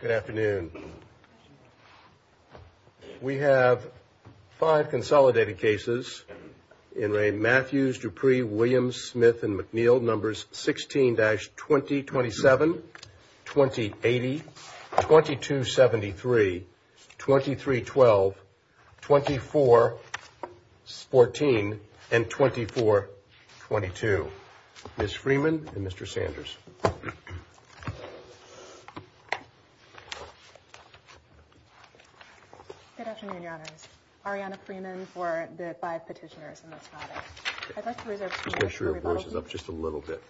Good afternoon. We have five consolidated cases in Ray Matthews, Dupree, Williams, Smith and McNeil, numbers 16-20, 27, 20, 80, 22, 73, 23, 12, 24, 14 and 24, 22. Ms. Freeman and Mr. Sanders. Good afternoon, your honors. Arianna Freeman for the five petitioners in this matter. I'd like to reserve two minutes for rebuttal. Just make sure your voice is up just a little bit.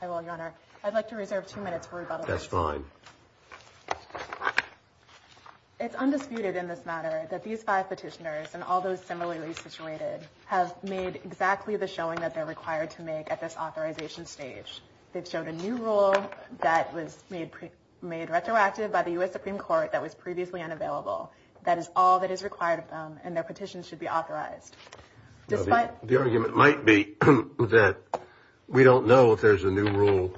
I will, your honor. I'd like to reserve two minutes for rebuttal. That's fine. It's undisputed in this matter that these five petitioners and all those similarly situated have made exactly the showing that they're required to make at this authorization stage. They've showed a new rule that was made made retroactive by the U.S. Supreme Court that was previously unavailable. That is all that is required of them and their petition should be authorized. Despite the argument might be that we don't know if there's a new rule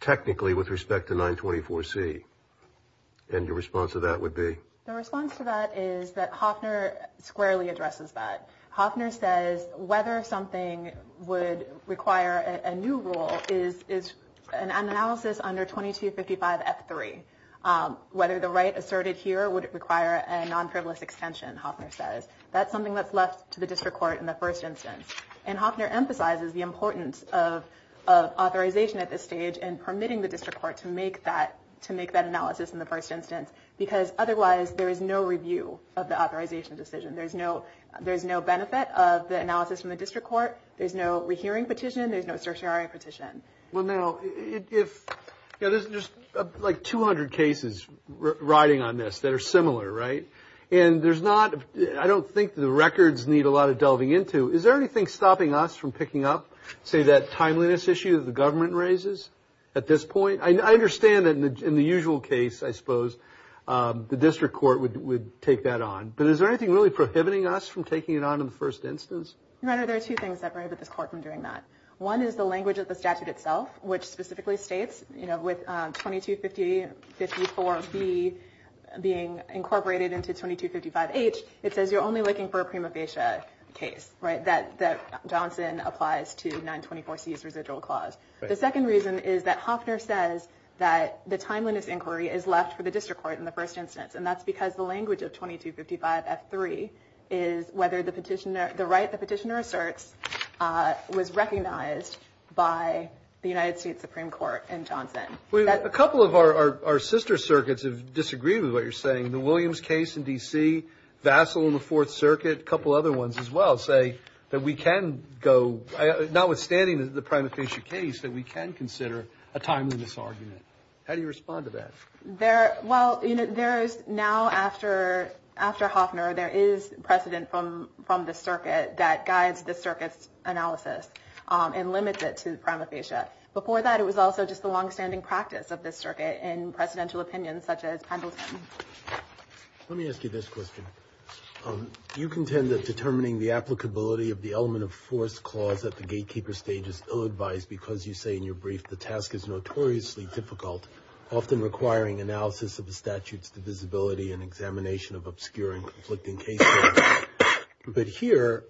technically with respect to 924 C. And your response to that would be the response to that is that Hoffner squarely addresses that. Hoffner says whether something would require a new rule is is an analysis under 2255 F3, whether the right asserted here would require a non-privilege extension. Hoffner says that's something that's left to the district court in the first instance. And Hoffner emphasizes the importance of authorization at this stage and permitting the district court to make that to make that analysis in the first instance. Because otherwise there is no review of the authorization decision. There's no there's no benefit of the analysis from the district court. There's no rehearing petition. There's no certiorari petition. Well, now, if there's just like 200 cases riding on this that are similar. Right. And there's not I don't think the records need a lot of delving into. Is there anything stopping us from picking up, say, that timeliness issue that the government raises at this point? I understand that in the usual case, I suppose the district court would would take that on. But is there anything really prohibiting us from taking it on in the first instance? Rather, there are two things that this court from doing that. One is the language of the statute itself, which specifically states, you know, with twenty two fifty fifty four B being incorporated into twenty two fifty five H. It says you're only looking for a prima facie case. Right. That that Johnson applies to nine twenty four C's residual clause. The second reason is that Hoffner says that the timeliness inquiry is left for the district court in the first instance. And that's because the language of twenty two fifty five at three is whether the petitioner, the right, the petitioner asserts was recognized by the United States Supreme Court and Johnson. We have a couple of our sister circuits of disagree with what you're saying. The Williams case in D.C. vassal in the Fourth Circuit. A couple other ones as well say that we can go. Notwithstanding the prima facie case that we can consider a timeliness argument. How do you respond to that there? Well, you know, there is now after after Hoffner, there is precedent from from the circuit that guides the circus analysis and limits it to prima facie. Before that, it was also just the longstanding practice of this circuit and presidential opinions such as Pendleton. Let me ask you this question. You contend that determining the applicability of the element of force clause at the gatekeeper stage is ill advised because you say in your brief, the task is notoriously difficult, often requiring analysis of the statutes, the visibility and examination of obscuring conflicting cases. But here,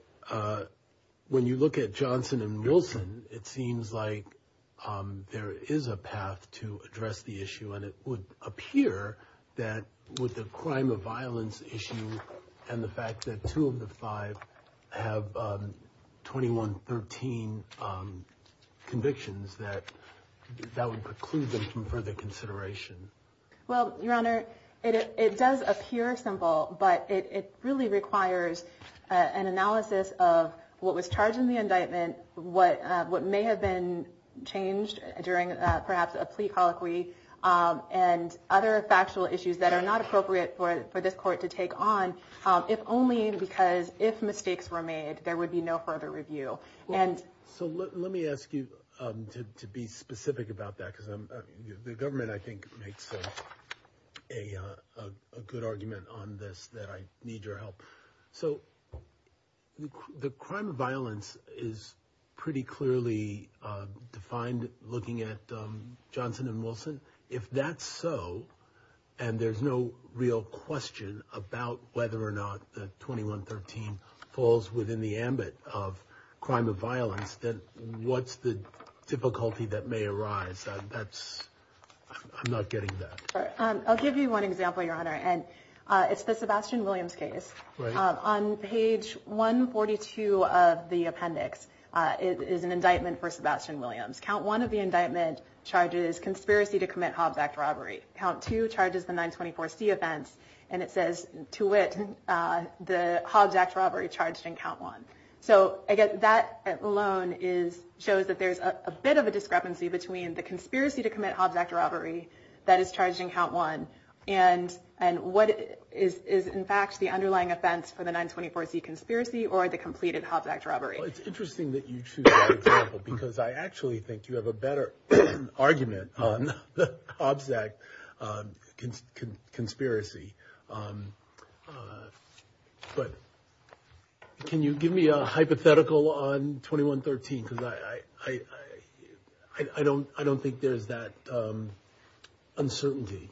when you look at Johnson and Wilson, it seems like there is a path to address the issue. And it would appear that with the crime of violence issue and the fact that two of the five have twenty one, 13 convictions that that would preclude them from further consideration. Well, Your Honor, it does appear simple, but it really requires an analysis of what was charged in the indictment. What what may have been changed during perhaps a plea colloquy and other factual issues that are not appropriate for this court to take on, if only because if mistakes were made, there would be no further review. And so let me ask you to be specific about that, because the government, I think, makes a good argument on this that I need your help. So the crime of violence is pretty clearly defined. Looking at Johnson and Wilson, if that's so and there's no real question about whether or not the twenty one, 13 falls within the ambit of crime of violence, then what's the difficulty that may arise? That's I'm not getting that. I'll give you one example, Your Honor. And it's the Sebastian Williams case on page 142 of the appendix. It is an indictment for Sebastian Williams. Count one of the indictment charges conspiracy to commit Hobbs Act robbery. Count two charges, the 924 C offense. And it says to it the Hobbs Act robbery charged in count one. So I get that alone is shows that there's a bit of a discrepancy between the conspiracy to commit Hobbs Act robbery that is charging count one. And and what is is, in fact, the underlying offense for the 924 conspiracy or the completed Hobbs Act robbery? It's interesting that you choose because I actually think you have a better argument on the Hobbs Act conspiracy. But can you give me a hypothetical on twenty one, 13, because I don't I don't think there's that uncertainty.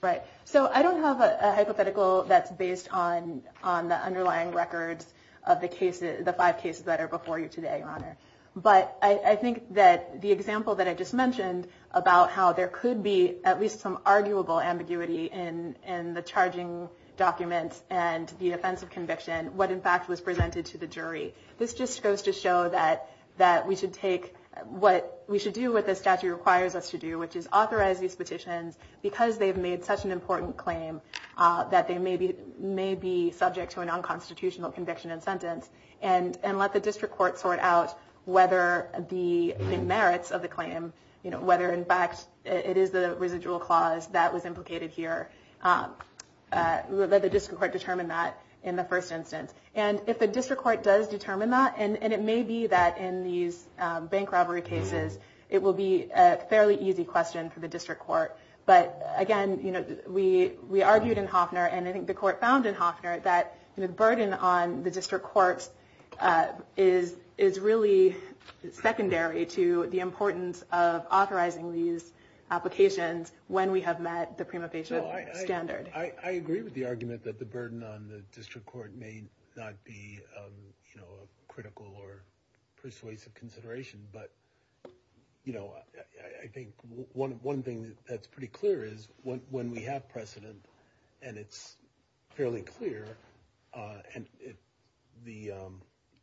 Right. So I don't have a hypothetical that's based on on the underlying records of the cases, the five cases that are before you today. Your Honor. But I think that the example that I just mentioned about how there could be at least some arguable ambiguity in and the charging documents and the offense of conviction, what, in fact, was presented to the jury. This just goes to show that that we should take what we should do with the statute requires us to do, which is authorize these petitions because they've made such an important claim that they may be may be subject to a nonconstitutional conviction and sentence and and let the district court sort out whether the merits of the claim, you know, whether in fact it is the residual clause that was implicated here that the district court determined that in the first instance. And if the district court does determine that and it may be that in these bank robbery cases, it will be a fairly easy question for the district court. But again, you know, we we argued in Hoffner. And I think the court found in Hoffner that the burden on the district courts is is really secondary to the importance of authorizing these applications when we have met the prima facie standard. I agree with the argument that the burden on the district court may not be critical or persuasive consideration. But, you know, I think one one thing that's pretty clear is when we have precedent and it's fairly clear and the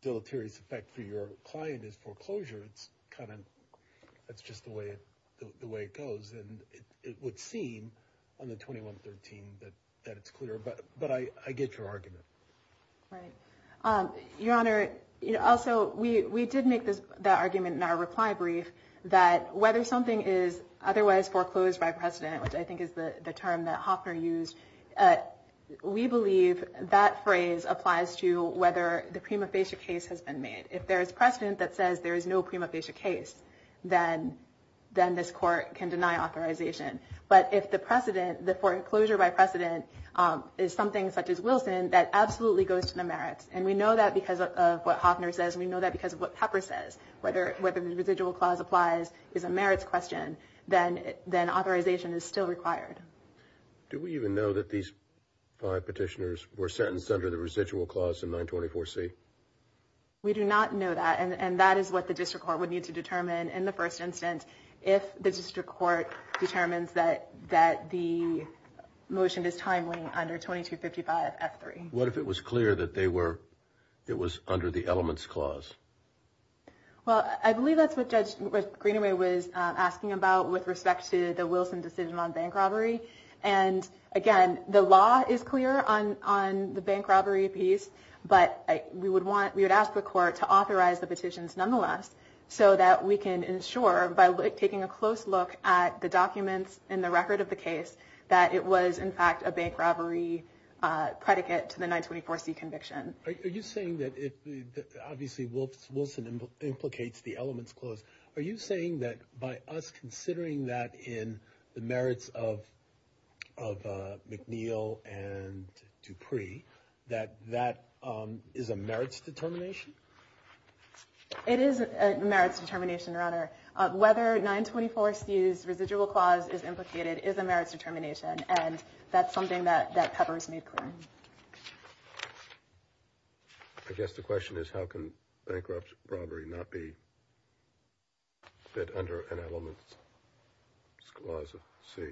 deleterious effect for your client is foreclosure, it's kind of that's just the way the way it goes. And it would seem on the twenty one thirteen that that it's clear. But but I get your argument. Right. Your Honor. Also, we did make this argument in our reply brief that whether something is otherwise foreclosed by precedent, which I think is the term that Hoffner used, we believe that phrase applies to whether the prima facie case has been made. If there is precedent that says there is no prima facie case, then then this court can deny authorization. But if the precedent, the foreclosure by precedent is something such as Wilson, that absolutely goes to the merits. And we know that because of what Hoffner says. We know that because of what Pepper says, whether whether the residual clause applies is a merits question. Then then authorization is still required. Do we even know that these five petitioners were sentenced under the residual clause in 924 C? We do not know that. And that is what the district court would need to determine in the first instance. If the district court determines that that the motion is timely under 2255 F3. What if it was clear that they were it was under the elements clause? Well, I believe that's what Judge Greenaway was asking about with respect to the Wilson decision on bank robbery. And again, the law is clear on on the bank robbery piece. But we would want we would ask the court to authorize the petitions nonetheless so that we can ensure by taking a close look at the documents in the record of the case that it was in fact a bank robbery predicate to the 924 C conviction. Are you saying that it obviously will Wilson implicates the elements clause? Are you saying that by us considering that in the merits of of McNeil and Dupree, that that is a merits determination? It is a merits determination, Your Honor. Whether 924 C's residual clause is implicated is a merits determination. And that's something that that pepper is made clear. I guess the question is, how can bankruptcy robbery not be. But under an element clause of C.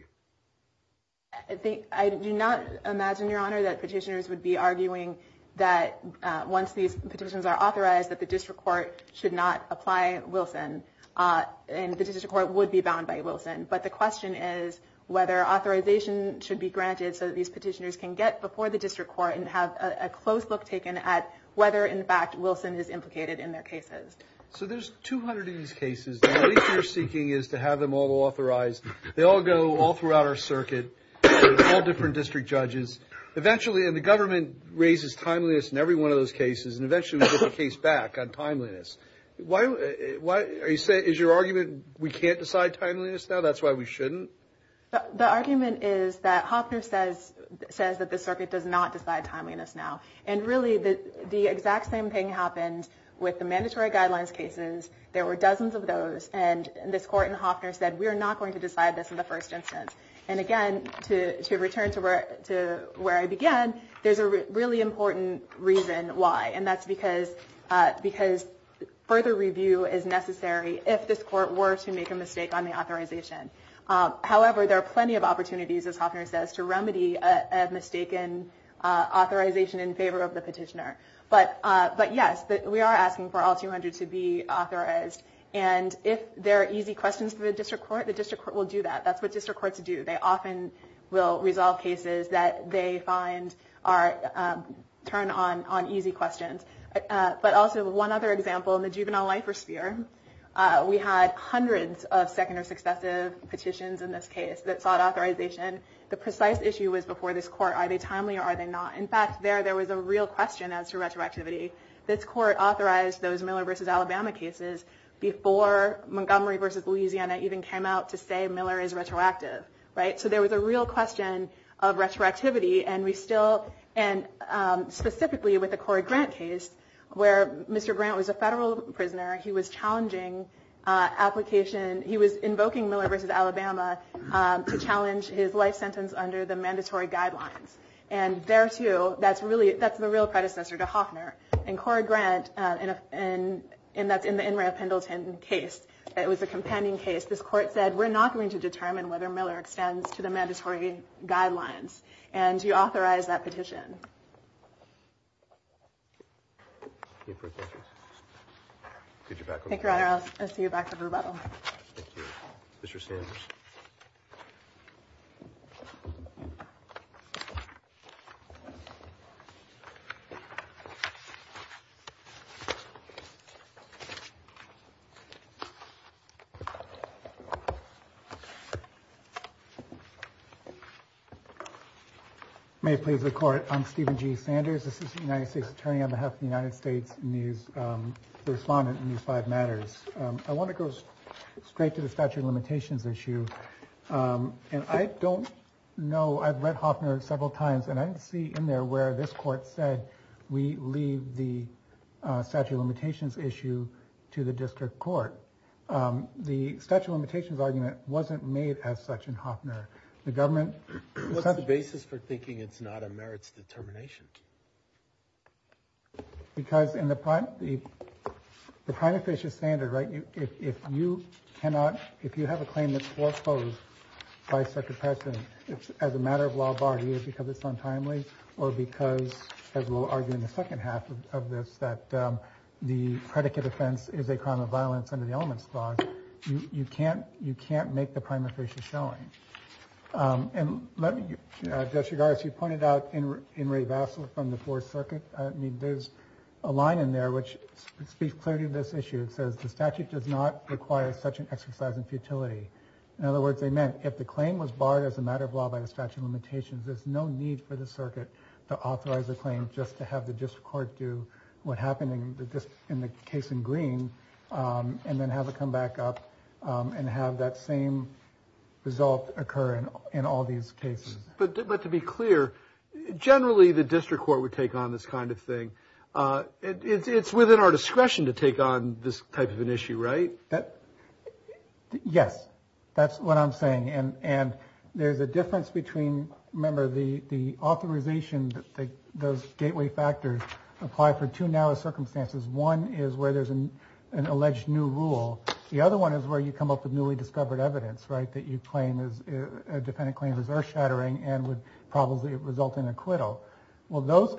I think I do not imagine, Your Honor, that petitioners would be arguing that once these petitions are authorized, that the district court should not apply Wilson and the district court would be bound by Wilson. But the question is whether authorization should be granted so that these petitioners can get before the district court and have a close look taken at whether, in fact, Wilson is implicated in their cases. So there's 200 of these cases. You're seeking is to have them all authorized. They all go all throughout our circuit, all different district judges eventually. And the government raises timeliness in every one of those cases. And eventually the case back on timeliness. Why? Why are you saying is your argument we can't decide timeliness now? That's why we shouldn't. The argument is that Hopner says says that the circuit does not decide timeliness now. And really, the exact same thing happened with the mandatory guidelines cases. There were dozens of those. And this court in Hopner said, we're not going to decide this in the first instance. And again, to return to where to where I began, there's a really important reason why. And that's because because further review is necessary if this court were to make a mistake on the authorization. However, there are plenty of opportunities, as Hopner says, to remedy a mistaken authorization in favor of the petitioner. But but yes, we are asking for all 200 to be authorized. And if there are easy questions for the district court, the district court will do that. That's what district courts do. They often will resolve cases that they find are turn on on easy questions. But also one other example in the juvenile life or sphere. We had hundreds of second or successive petitions in this case that sought authorization. The precise issue was before this court. Are they timely or are they not? In fact, there there was a real question as to retroactivity. This court authorized those Miller versus Alabama cases before Montgomery versus Louisiana even came out to say Miller is retroactive. Right. So there was a real question of retroactivity. And we still and specifically with the Corey Grant case where Mr. Grant was a federal prisoner, he was challenging application. He was invoking Miller versus Alabama to challenge his life sentence under the mandatory guidelines. And there, too, that's really that's the real predecessor to Hoffner and Corey Grant. And and that's in the Pendleton case. It was a companding case. This court said, we're not going to determine whether Miller extends to the mandatory guidelines. And you authorize that petition. Could you back up? I'll see you back up. Mr. Sanders. May it please the court. I'm Stephen G. Sanders. This is the United States attorney on behalf of the United States. Respondent in these five matters. I want to go straight to the statute of limitations issue. And I don't know. I've read Hoffner several times and I see in there where this court said we leave the statute of limitations issue to the district court. The statute of limitations argument wasn't made as such in Hoffner. The government set the basis for thinking it's not a merits determination. Because in the prime, the kind of fish is standard, right? If you cannot if you have a claim that's foreclosed by such a person, it's as a matter of law. Because it's untimely or because, as we'll argue in the second half of this, that the predicate offense is a crime of violence under the elements. You can't you can't make the primary fish is going. And let me just regard as you pointed out in Ray Vassal from the fourth circuit. I mean, there's a line in there which speaks clearly to this issue. It says the statute does not require such an exercise in futility. In other words, they meant if the claim was barred as a matter of law by the statute of limitations, there's no need for the circuit to authorize a claim. Just to have the district court do what happened in the case in green and then have it come back up and have that same result occur in all these cases. But to be clear, generally, the district court would take on this kind of thing. It's within our discretion to take on this type of an issue, right? Yes, that's what I'm saying. And there's a difference between remember the the authorization that those gateway factors apply for two now circumstances. One is where there's an alleged new rule. The other one is where you come up with newly discovered evidence, right? That you claim is a defendant claim is earth shattering and would probably result in acquittal. Well, those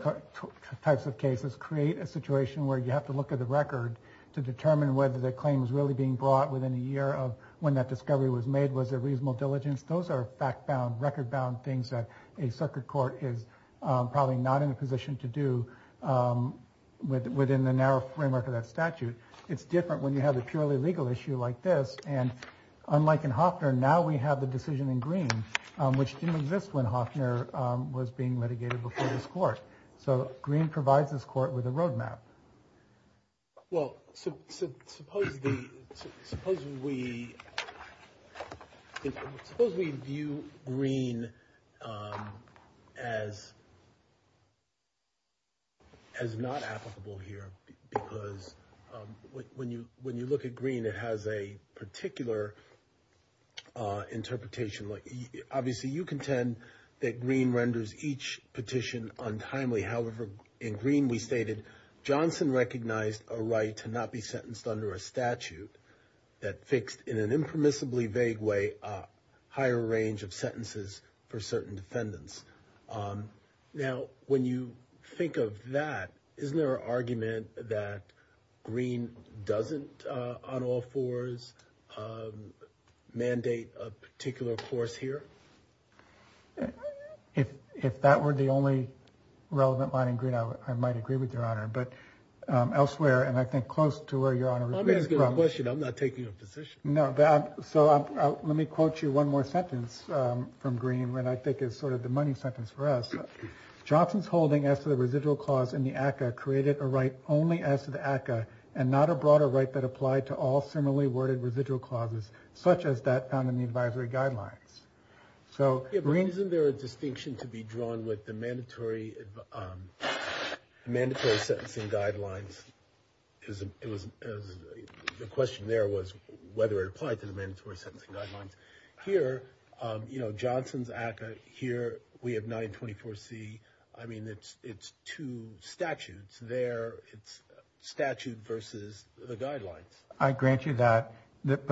types of cases create a situation where you have to look at the record to determine whether the claim is really being brought within a year of when that discovery was made. Was it reasonable diligence? Those are fact bound, record bound things that a circuit court is probably not in a position to do with within the narrow framework of that statute. It's different when you have a purely legal issue like this. And unlike in Hoffner, now we have the decision in green, which didn't exist when Hoffner was being litigated before this court. So green provides this court with a roadmap. Well, suppose the suppose we suppose we view green as. As not applicable here, because when you when you look at green, it has a particular interpretation. Obviously, you contend that green renders each petition untimely. However, in green, we stated Johnson recognized a right to not be sentenced under a statute that fixed in an impermissibly vague way higher range of sentences for certain defendants. Now, when you think of that, isn't there an argument that green doesn't on all fours mandate a particular course here? If if that were the only relevant line in green, I might agree with your honor. But elsewhere, and I think close to where you're on a question, I'm not taking a position. No. So let me quote you one more sentence from green, when I think is sort of the money sentence for us. Johnson's holding as to the residual clause in the ACCA created a right only as to the ACCA and not a broader right that applied to all similarly worded residual clauses such as that found in the advisory guidelines. So isn't there a distinction to be drawn with the mandatory mandatory sentencing guidelines? Because it was the question there was whether it applied to the mandatory sentencing guidelines here. You know, Johnson's ACCA here. We have 924 C. I mean, it's it's two statutes there. It's statute versus the guidelines. I grant you that. But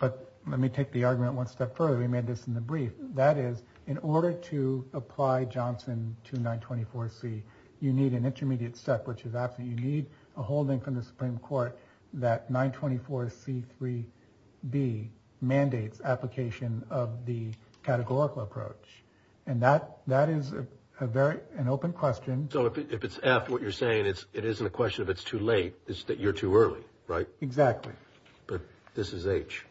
but let me take the argument one step further. We made this in the brief. That is, in order to apply Johnson to 924 C, you need an intermediate step, which is that you need a holding from the Supreme Court that 924 C 3 B mandates application of the categorical approach. And that that is a very an open question. So if it's after what you're saying, it's it isn't a question of it's too late. It's that you're too early. Right. Exactly. But this is H.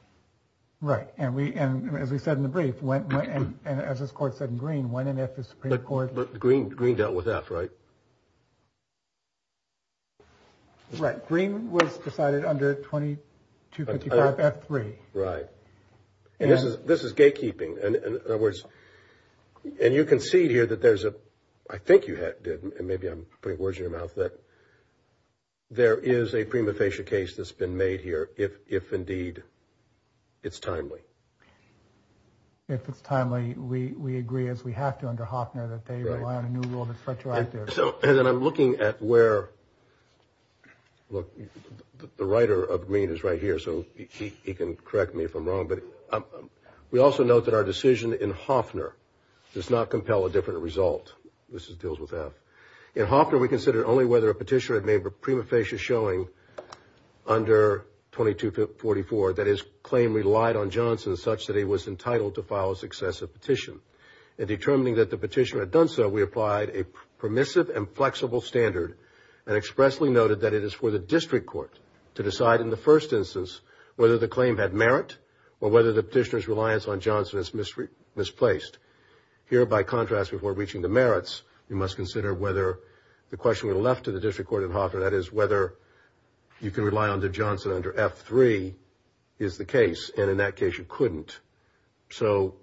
Right. And we and as we said in the brief, when and as this court said in green, when and if the Supreme Court. But the green green dealt with that. Right. Right. Green was decided under 20 to three. Right. And this is this is gatekeeping. And in other words, and you can see here that there's a I think you did. And maybe I'm putting words in your mouth that there is a prima facie case that's been made here. If if indeed it's timely, if it's timely, we we agree as we have to under Hoffner that they rely on a new rule that's retroactive. So and then I'm looking at where look, the writer of Green is right here. So he can correct me if I'm wrong. But we also note that our decision in Hoffner does not compel a different result. This is deals with that in Hoffman. We considered only whether a petitioner had made a prima facie showing under 22 to 44. That is claim relied on Johnson such that he was entitled to file a successive petition and determining that the petitioner had done so. We applied a permissive and flexible standard and expressly noted that it is for the district court to decide in the first instance, whether the claim had merit or whether the petitioner's reliance on Johnson is misplaced here. By contrast, before reaching the merits, you must consider whether the question we left to the district court in Hoffman, that is whether you can rely on the Johnson under F3 is the case. And in that case, you couldn't. So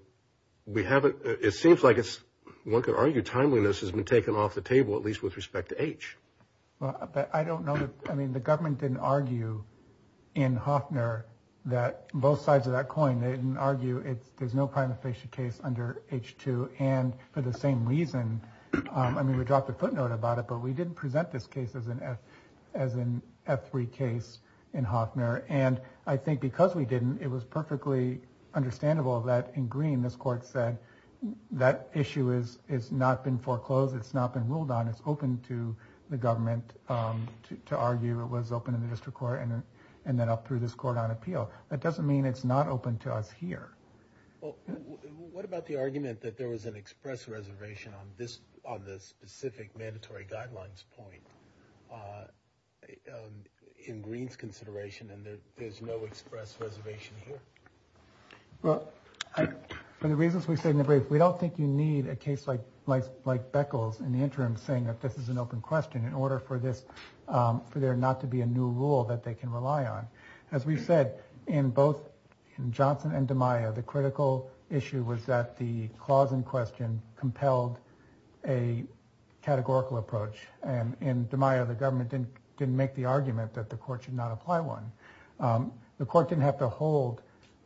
we haven't. It seems like it's one could argue timeliness has been taken off the table, at least with respect to H. But I don't know. I mean, the government didn't argue in Hoffner that both sides of that coin didn't argue it. There's no prima facie case under H2. And for the same reason, I mean, we dropped a footnote about it, but we didn't present this case as an F as an F3 case in Hoffman. And I think because we didn't, it was perfectly understandable that in green, this court said that issue is is not been foreclosed. It's not been ruled on. It's open to the government to argue. It was open in the district court and then up through this court on appeal. That doesn't mean it's not open to us here. Well, what about the argument that there was an express reservation on this on the specific mandatory guidelines point? In Greene's consideration, and there is no express reservation here. Well, for the reasons we say in the brief, we don't think you need a case like life, like Beckles in the interim saying that this is an open question in order for this for there not to be a new rule that they can rely on. As we said in both Johnson and DiMaio, the critical issue was that the clause in question compelled a categorical approach. And in DiMaio, the government didn't didn't make the argument that the court should not apply one. The court didn't have to hold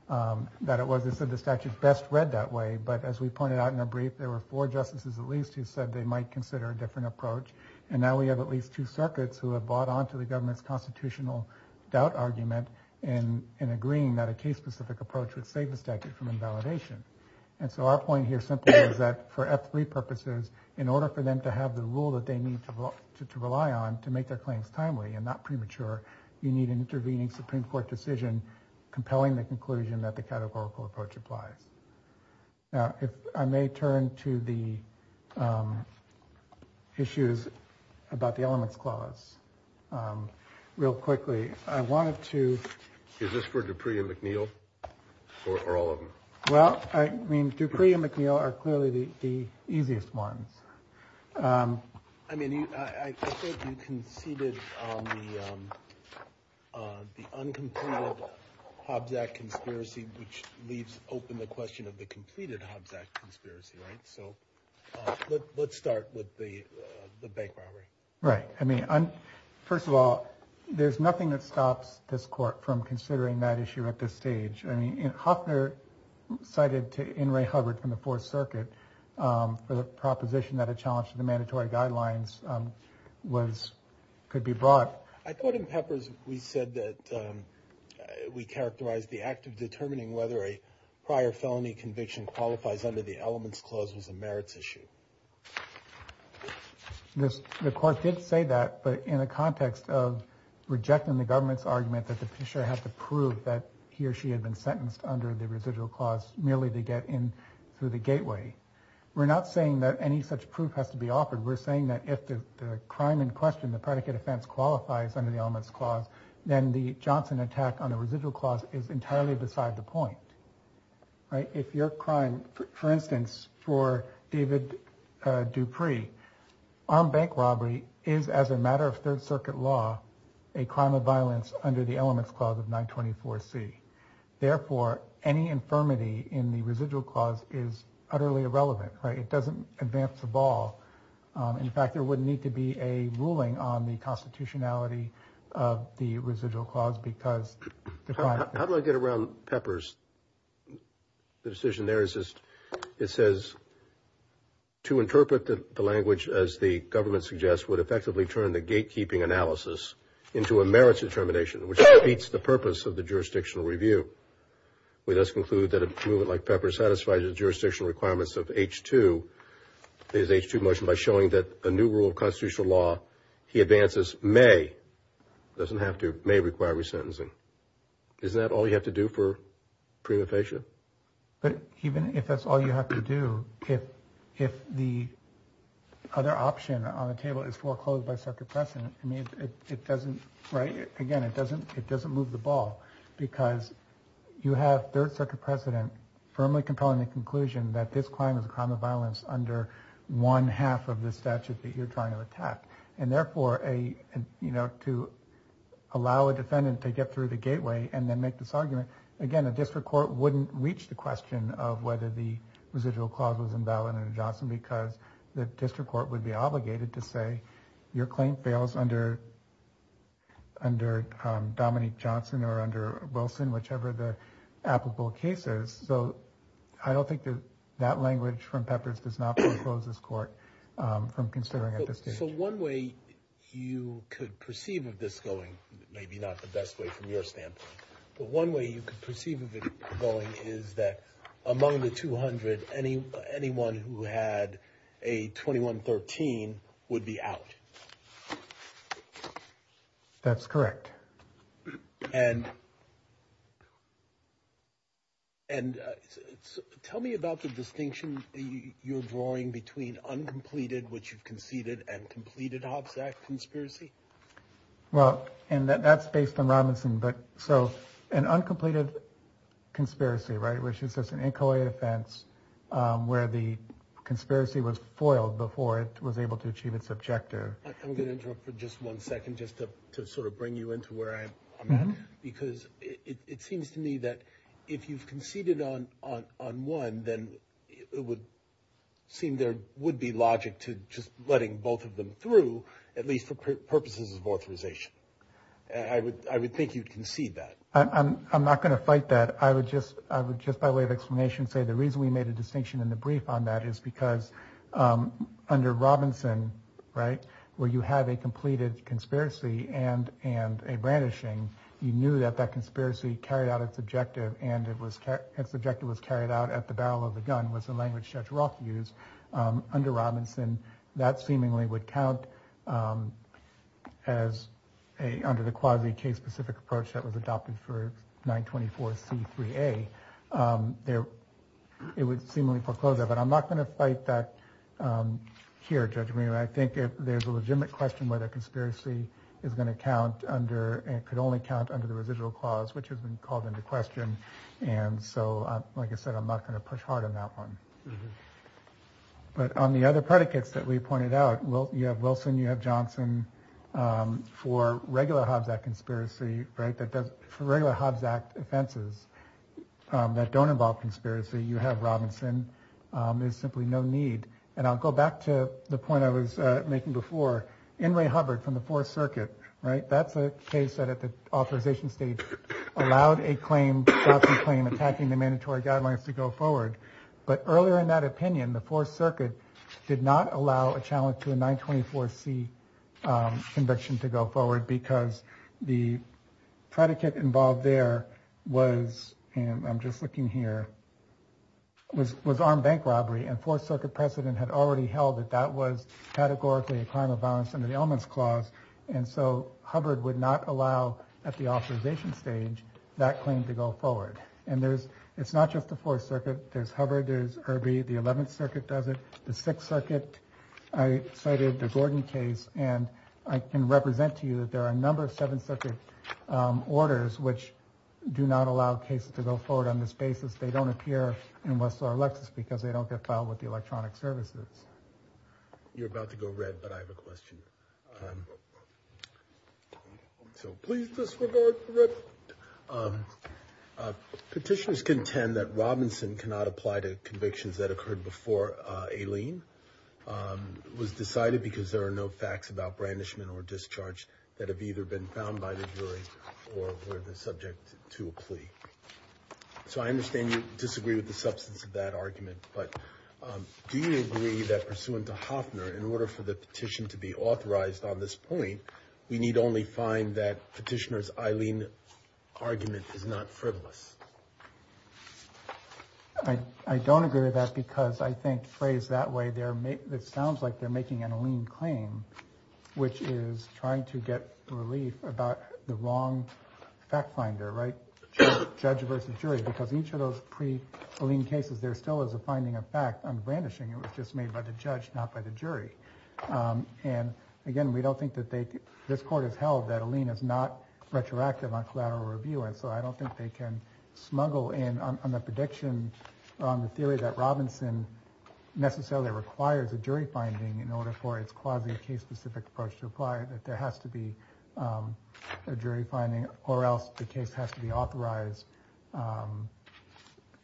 that it was the statute best read that way. But as we pointed out in a brief, there were four justices, at least, who said they might consider a different approach. And now we have at least two circuits who have bought on to the government's constitutional doubt argument. And in agreeing that a case specific approach would save the statute from invalidation. And so our point here is that for every purposes, in order for them to have the rule that they need to rely on to make their claims timely and not premature, you need an intervening Supreme Court decision compelling the conclusion that the categorical approach applies. Now, if I may turn to the issues about the elements clause real quickly, I wanted to. Is this for Dupree and McNeill or all of them? Well, I mean, Dupree and McNeill are clearly the easiest ones. I mean, I think you conceded the uncompleted Hobbs Act conspiracy, which leaves open the question of the completed Hobbs Act conspiracy. Right. So let's start with the bank robbery. Right. I mean, first of all, there's nothing that stops this court from considering that issue at this stage. I mean, Hoffner cited to Inouye Hubbard from the Fourth Circuit for the proposition that a challenge to the mandatory guidelines was could be brought. I thought in Peppers we said that we characterized the act of determining whether a prior felony conviction qualifies under the elements clause was a merits issue. The court did say that, but in the context of rejecting the government's argument that the petitioner had to prove that he or she had been sentenced under the residual clause merely to get in through the gateway. We're not saying that any such proof has to be offered. We're saying that if the crime in question, the predicate offense qualifies under the elements clause, then the Johnson attack on the residual clause is entirely beside the point. If your crime, for instance, for David Dupree, armed bank robbery is as a matter of Third Circuit law, a crime of violence under the elements clause of 924 C. Therefore, any infirmity in the residual clause is utterly irrelevant. It doesn't advance the ball. In fact, there would need to be a ruling on the constitutionality of the residual clause because. How do I get around Peppers? The decision there is just it says. To interpret the language, as the government suggests, would effectively turn the gatekeeping analysis into a merits determination, which meets the purpose of the jurisdictional review. We thus conclude that a movement like Peppers satisfied the jurisdictional requirements of H2 is H2 motion by showing that a new rule of constitutional law. He advances may doesn't have to may require resentencing. Is that all you have to do for prima facie? But even if that's all you have to do, if if the other option on the table is foreclosed by second precedent, I mean, it doesn't. Right. Again, it doesn't it doesn't move the ball because you have third circuit precedent firmly compelling the conclusion that this crime is a crime of violence under one half of the statute that you're trying to attack. And therefore, a you know, to allow a defendant to get through the gateway and then make this argument again, a district court wouldn't reach the question of whether the residual clause was invalid. Johnson, because the district court would be obligated to say your claim fails under. Under Dominique Johnson or under Wilson, whichever the applicable cases. So I don't think that that language from Peppers does not close this court from considering it. So one way you could perceive of this going, maybe not the best way from your standpoint, but one way you could perceive of it going is that among the 200, any anyone who had a 21, 13 would be out. That's correct. And. And tell me about the distinction you're drawing between uncompleted, which you've conceded and completed Hobbs Act conspiracy. Well, and that's based on Robinson. But so an uncompleted conspiracy, right, which is just an incoherent offense where the conspiracy was foiled before it was able to achieve its objective. I'm going to interrupt for just one second just to sort of bring you into where I'm at, because it seems to me that if you've conceded on on on one, then it would seem there would be logic to just letting both of them through, at least for purposes of authorization. I would I would think you can see that I'm not going to fight that. I would just I would just by way of explanation say the reason we made a distinction in the brief on that is because under Robinson, right, where you have a completed conspiracy and and a brandishing, you knew that that conspiracy carried out its objective. And it was its objective was carried out at the barrel of the gun was the language Judge Roth used under Robinson that seemingly would count as a under the quasi case specific approach that was adopted for 924 C3A there. So it would seemingly foreclose it. But I'm not going to fight that here. I think there's a legitimate question whether conspiracy is going to count under and could only count under the residual clause, which has been called into question. And so, like I said, I'm not going to push hard on that one. But on the other predicates that we pointed out, well, you have Wilson, you have Johnson for regular Hobbs Act conspiracy. Right. That does for regular Hobbs Act offenses that don't involve conspiracy. You have Robinson is simply no need. And I'll go back to the point I was making before. In Ray Hubbard from the Fourth Circuit. Right. That's a case that at the authorization stage allowed a claim claim attacking the mandatory guidelines to go forward. But earlier in that opinion, the Fourth Circuit did not allow a challenge to a 924 C conviction to go forward because the predicate involved there was and I'm just looking here. Was was armed bank robbery and Fourth Circuit precedent had already held that that was categorically a crime of violence under the elements clause. And so Hubbard would not allow at the authorization stage that claim to go forward. And there's it's not just the Fourth Circuit. There's Hubbard. There's Herbie. The Eleventh Circuit does it. The Sixth Circuit. I cited the Gordon case. And I can represent to you that there are a number of seven circuit orders which do not allow cases to go forward on this basis. They don't appear in West or Lexus because they don't get filed with the electronic services. You're about to go red. But I have a question. So please disregard. Petitioners contend that Robinson cannot apply to convictions that occurred before a lien was decided because there are no facts about brandishment or discharge that have either been found by the jury or were the subject to a plea. So I understand you disagree with the substance of that argument, but do you agree that pursuant to Hoffner, in order for the petition to be authorized on this point, we need only find that petitioners Eileen argument is not frivolous. I don't agree with that because I think phrase that way there. It sounds like they're making an Eileen claim, which is trying to get relief about the wrong fact finder. Right. Judge versus jury, because each of those pre Eileen cases, there still is a finding of fact on brandishing. It was just made by the judge, not by the jury. And again, we don't think that this court has held that Eileen is not retroactive on collateral review. And so I don't think they can smuggle in on the prediction on the theory that Robinson necessarily requires a jury finding in order for its quasi case specific approach to apply that there has to be a jury finding or else the case has to be authorized.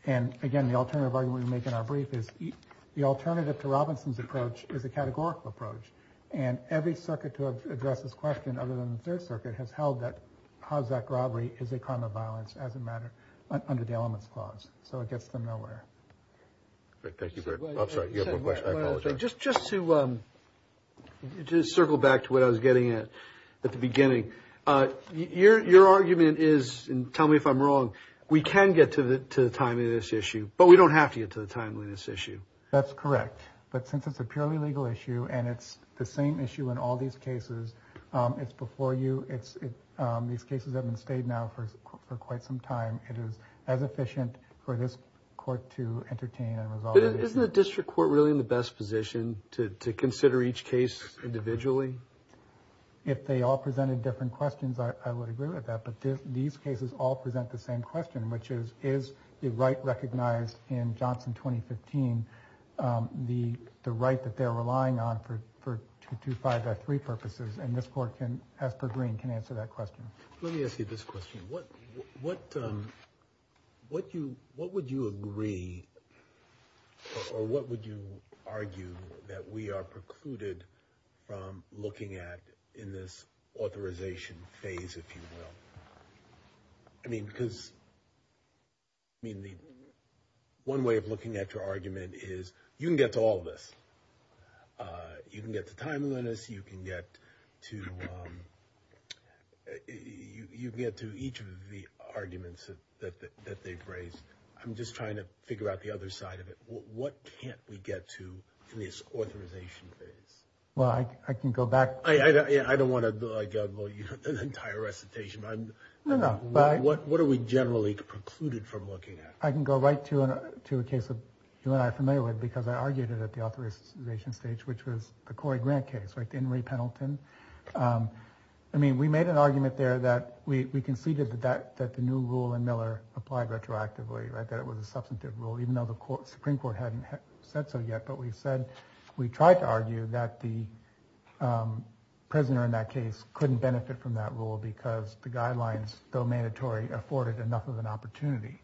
And again, the alternative argument we make in our brief is the alternative to Robinson's approach is a categorical approach. And every circuit to address this question, other than the Third Circuit, has held that how that robbery is a crime of violence as a matter under the elements clause. So it gets them nowhere. Thank you. I'm sorry. I apologize. Just just to just circle back to what I was getting at at the beginning. Your your argument is tell me if I'm wrong. We can get to the to the timeliness issue, but we don't have to get to the timeliness issue. That's correct. But since it's a purely legal issue and it's the same issue in all these cases, it's before you. It's these cases have been stayed now for quite some time. It is as efficient for this court to entertain. Isn't the district court really in the best position to consider each case individually? If they all presented different questions, I would agree with that. But these cases all present the same question, which is, is the right recognized in Johnson 2015? The the right that they're relying on for two to five or three purposes. And this court can, as per Green, can answer that question. Let me ask you this question. What what what you what would you agree or what would you argue that we are precluded from looking at in this authorization phase? If you will. I mean, because. I mean, the one way of looking at your argument is you can get to all this. You can get to timeliness, you can get to you get to each of the arguments that they've raised. I'm just trying to figure out the other side of it. What can't we get to this authorization? Well, I can go back. I don't want to go an entire recitation. I'm not. But what what are we generally precluded from looking at? I can go right to a to a case of you and I are familiar with because I argued it at the authorization stage, which was the Corey Grant case. I mean, we made an argument there that we conceded that that that the new rule in Miller applied retroactively, that it was a substantive rule, even though the Supreme Court hadn't said so yet. But we said we tried to argue that the prisoner in that case couldn't benefit from that rule because the guidelines, though mandatory, afforded enough of an opportunity.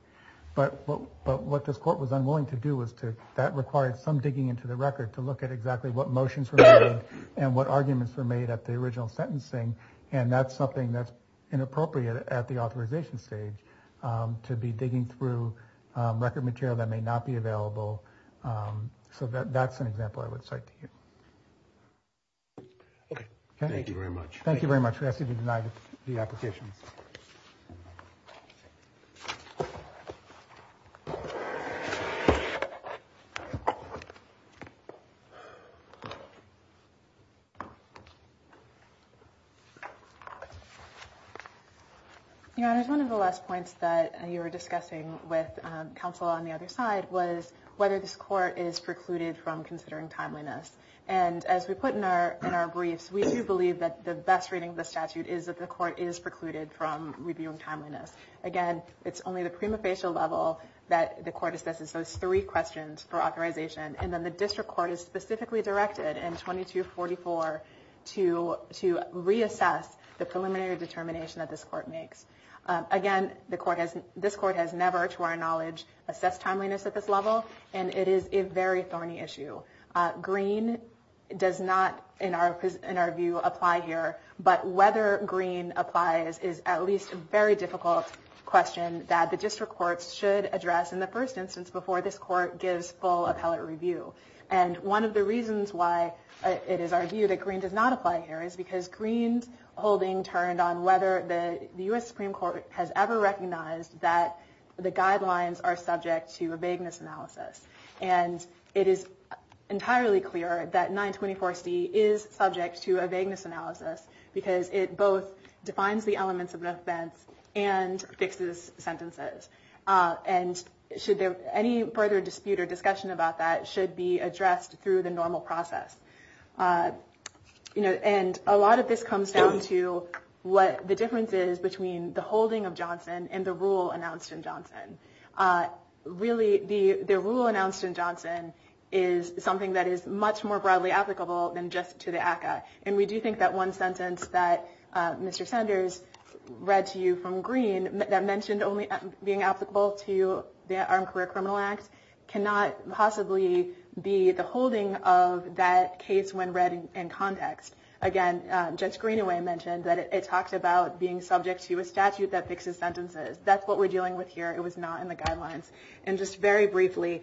But what this court was unwilling to do was to that required some digging into the record to look at exactly what motions were made and what arguments were made at the original sentencing. And that's something that's inappropriate at the authorization stage to be digging through record material that may not be available. So that's an example I would cite to you. Thank you very much. Thank you very much for asking to deny the application. You know, there's one of the last points that you were discussing with counsel on the other side was whether this court is precluded from considering timeliness. And as we put in our briefs, we do believe that the best reading of the statute is that the court is precluded from reviewing timeliness. Again, it's only the prima facie level that the court assesses those three questions for authorization. And then the district court is specifically directed in 2244 to reassess the preliminary determination that this court makes. Again, this court has never, to our knowledge, assessed timeliness at this level. And it is a very thorny issue. Green does not, in our view, apply here. But whether green applies is at least a very difficult question that the district courts should address in the first instance before this court gives full appellate review. And one of the reasons why it is our view that green does not apply here is because Green's holding turned on whether the US Supreme Court has ever recognized that the guidelines are subject to a vagueness analysis. And it is entirely clear that 924C is subject to a vagueness analysis because it both defines the elements of an offense and fixes sentences. And any further dispute or discussion about that should be addressed through the normal process. And a lot of this comes down to what the difference is between the holding of Johnson and the rule announced in Johnson. Really, the rule announced in Johnson is something that is much more broadly applicable than just to the ACCA. And we do think that one sentence that Mr. Sanders read to you from Green that mentioned only being applicable to the Armed Career Criminal Act cannot possibly be the holding of that case when read in context. Again, Judge Greenaway mentioned that it talks about being subject to a statute that fixes sentences. That's what we're dealing with here. It was not in the guidelines. And just very briefly,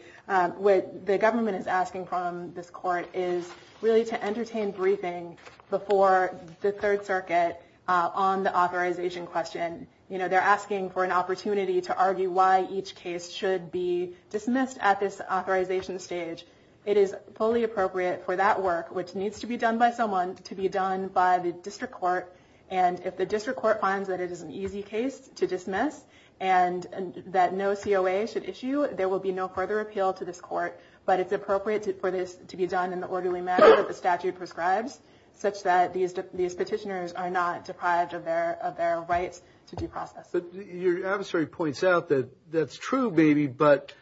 what the government is asking from this court is really to entertain briefing before the Third Circuit on the authorization question. And they're asking for an opportunity to argue why each case should be dismissed at this authorization stage. It is fully appropriate for that work, which needs to be done by someone, to be done by the district court. And if the district court finds that it is an easy case to dismiss and that no COA should issue, there will be no further appeal to this court. But it's appropriate for this to be done in the orderly manner that the statute prescribes, such that these petitioners are not deprived of their rights to due process. But your adversary points out that that's true, maybe, but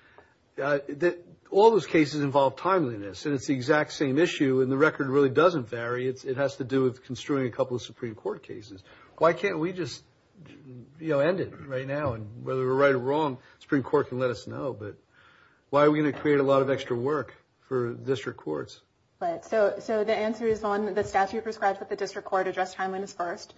all those cases involve timeliness. And it's the exact same issue. And the record really doesn't vary. It has to do with construing a couple of Supreme Court cases. Why can't we just end it right now? And whether we're right or wrong, the Supreme Court can let us know. But why are we going to create a lot of extra work for district courts? So the answer is on the statute prescribed that the district court address timeliness first.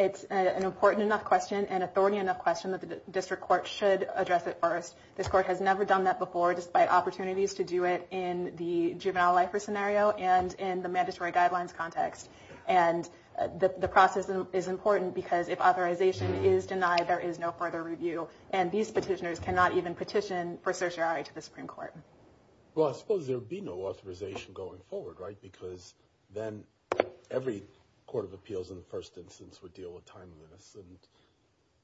It's an important enough question and authority enough question that the district court should address it first. This court has never done that before, despite opportunities to do it in the juvenile lifer scenario and in the mandatory guidelines context. And the process is important because if authorization is denied, there is no further review. And these petitioners cannot even petition for certiorari to the Supreme Court. Well, I suppose there would be no authorization going forward, right? Because then every court of appeals in the first instance would deal with timeliness. And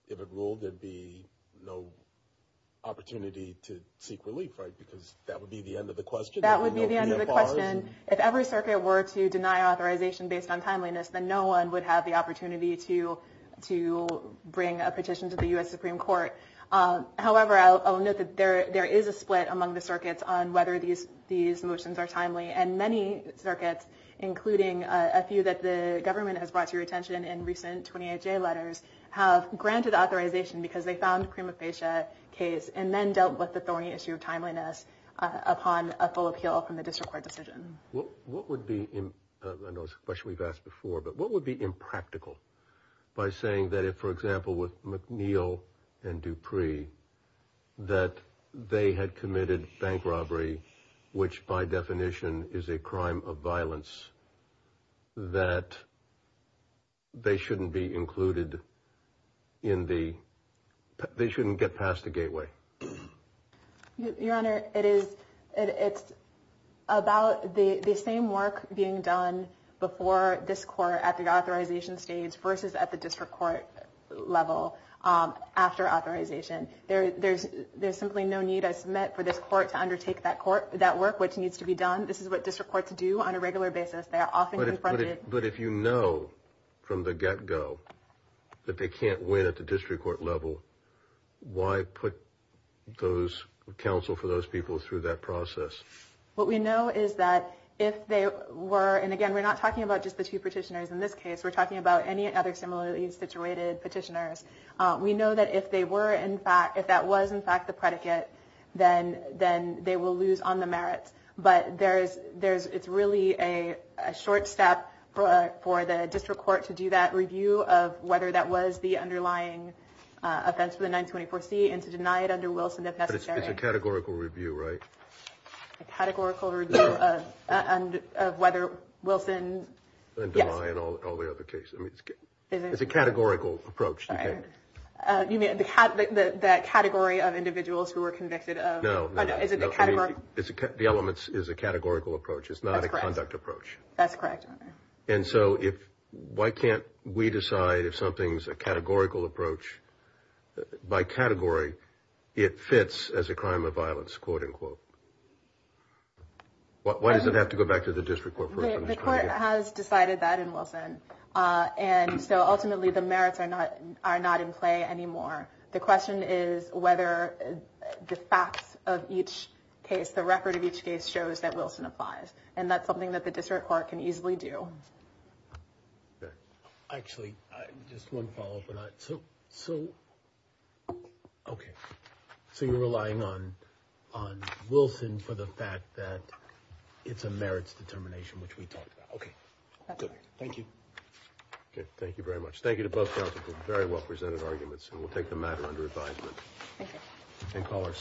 if it ruled, there'd be no opportunity to seek relief, right? Because that would be the end of the question. That would be the end of the question. If every circuit were to deny authorization based on timeliness, then no one would have the opportunity to bring a petition to the US Supreme Court. However, I'll note that there is a split among the circuits on whether these motions are timely. And many circuits, including a few that the government has brought to your attention in recent 28-J letters, have granted authorization because they found a prima facie case and then dealt with the thorny issue of timeliness upon a full appeal. Well, what would be a question we've asked before, but what would be impractical by saying that if, for example, with McNeil and Dupree, that they had committed bank robbery, which by definition is a crime of violence, that they shouldn't be included in the they shouldn't get past the gateway. Your Honor, it's about the same work being done before this court at the authorization stage versus at the district court level after authorization. There's simply no need, I submit, for this court to undertake that work, which needs to be done. This is what district courts do on a regular basis. But if you know from the get-go that they can't win at the district court level, why put counsel for those people through that process? What we know is that if they were, and again, we're not talking about just the two petitioners in this case. We're talking about any other similarly situated petitioners. We know that if they were in fact, if that was in fact the predicate, then they will lose on the merits. But it's really a short step for the district court to do that review of whether that was the underlying offense for the 924C and to deny it under Wilson if necessary. It's a categorical review, right? A categorical review of whether Wilson, yes. And deny in all the other cases. It's a categorical approach, you think? You mean the category of individuals who were convicted of? No, no. Is it the category? The elements is a categorical approach. It's not a conduct approach. That's correct, Your Honor. And so why can't we decide if something's a categorical approach? By category, it fits as a crime of violence, quote unquote. Why does it have to go back to the district court? The court has decided that in Wilson. And so ultimately, the merits are not in play anymore. The question is whether the facts of each case, the record of each case shows that Wilson applies. And that's something that the district court can easily do. Actually, just one follow up. So, okay. So you're relying on Wilson for the fact that it's a merits determination, which we talked about. Okay. Thank you. Okay. Thank you very much. Thank you to both counsel for very well presented arguments. And we'll take the matter under advisement. Thank you.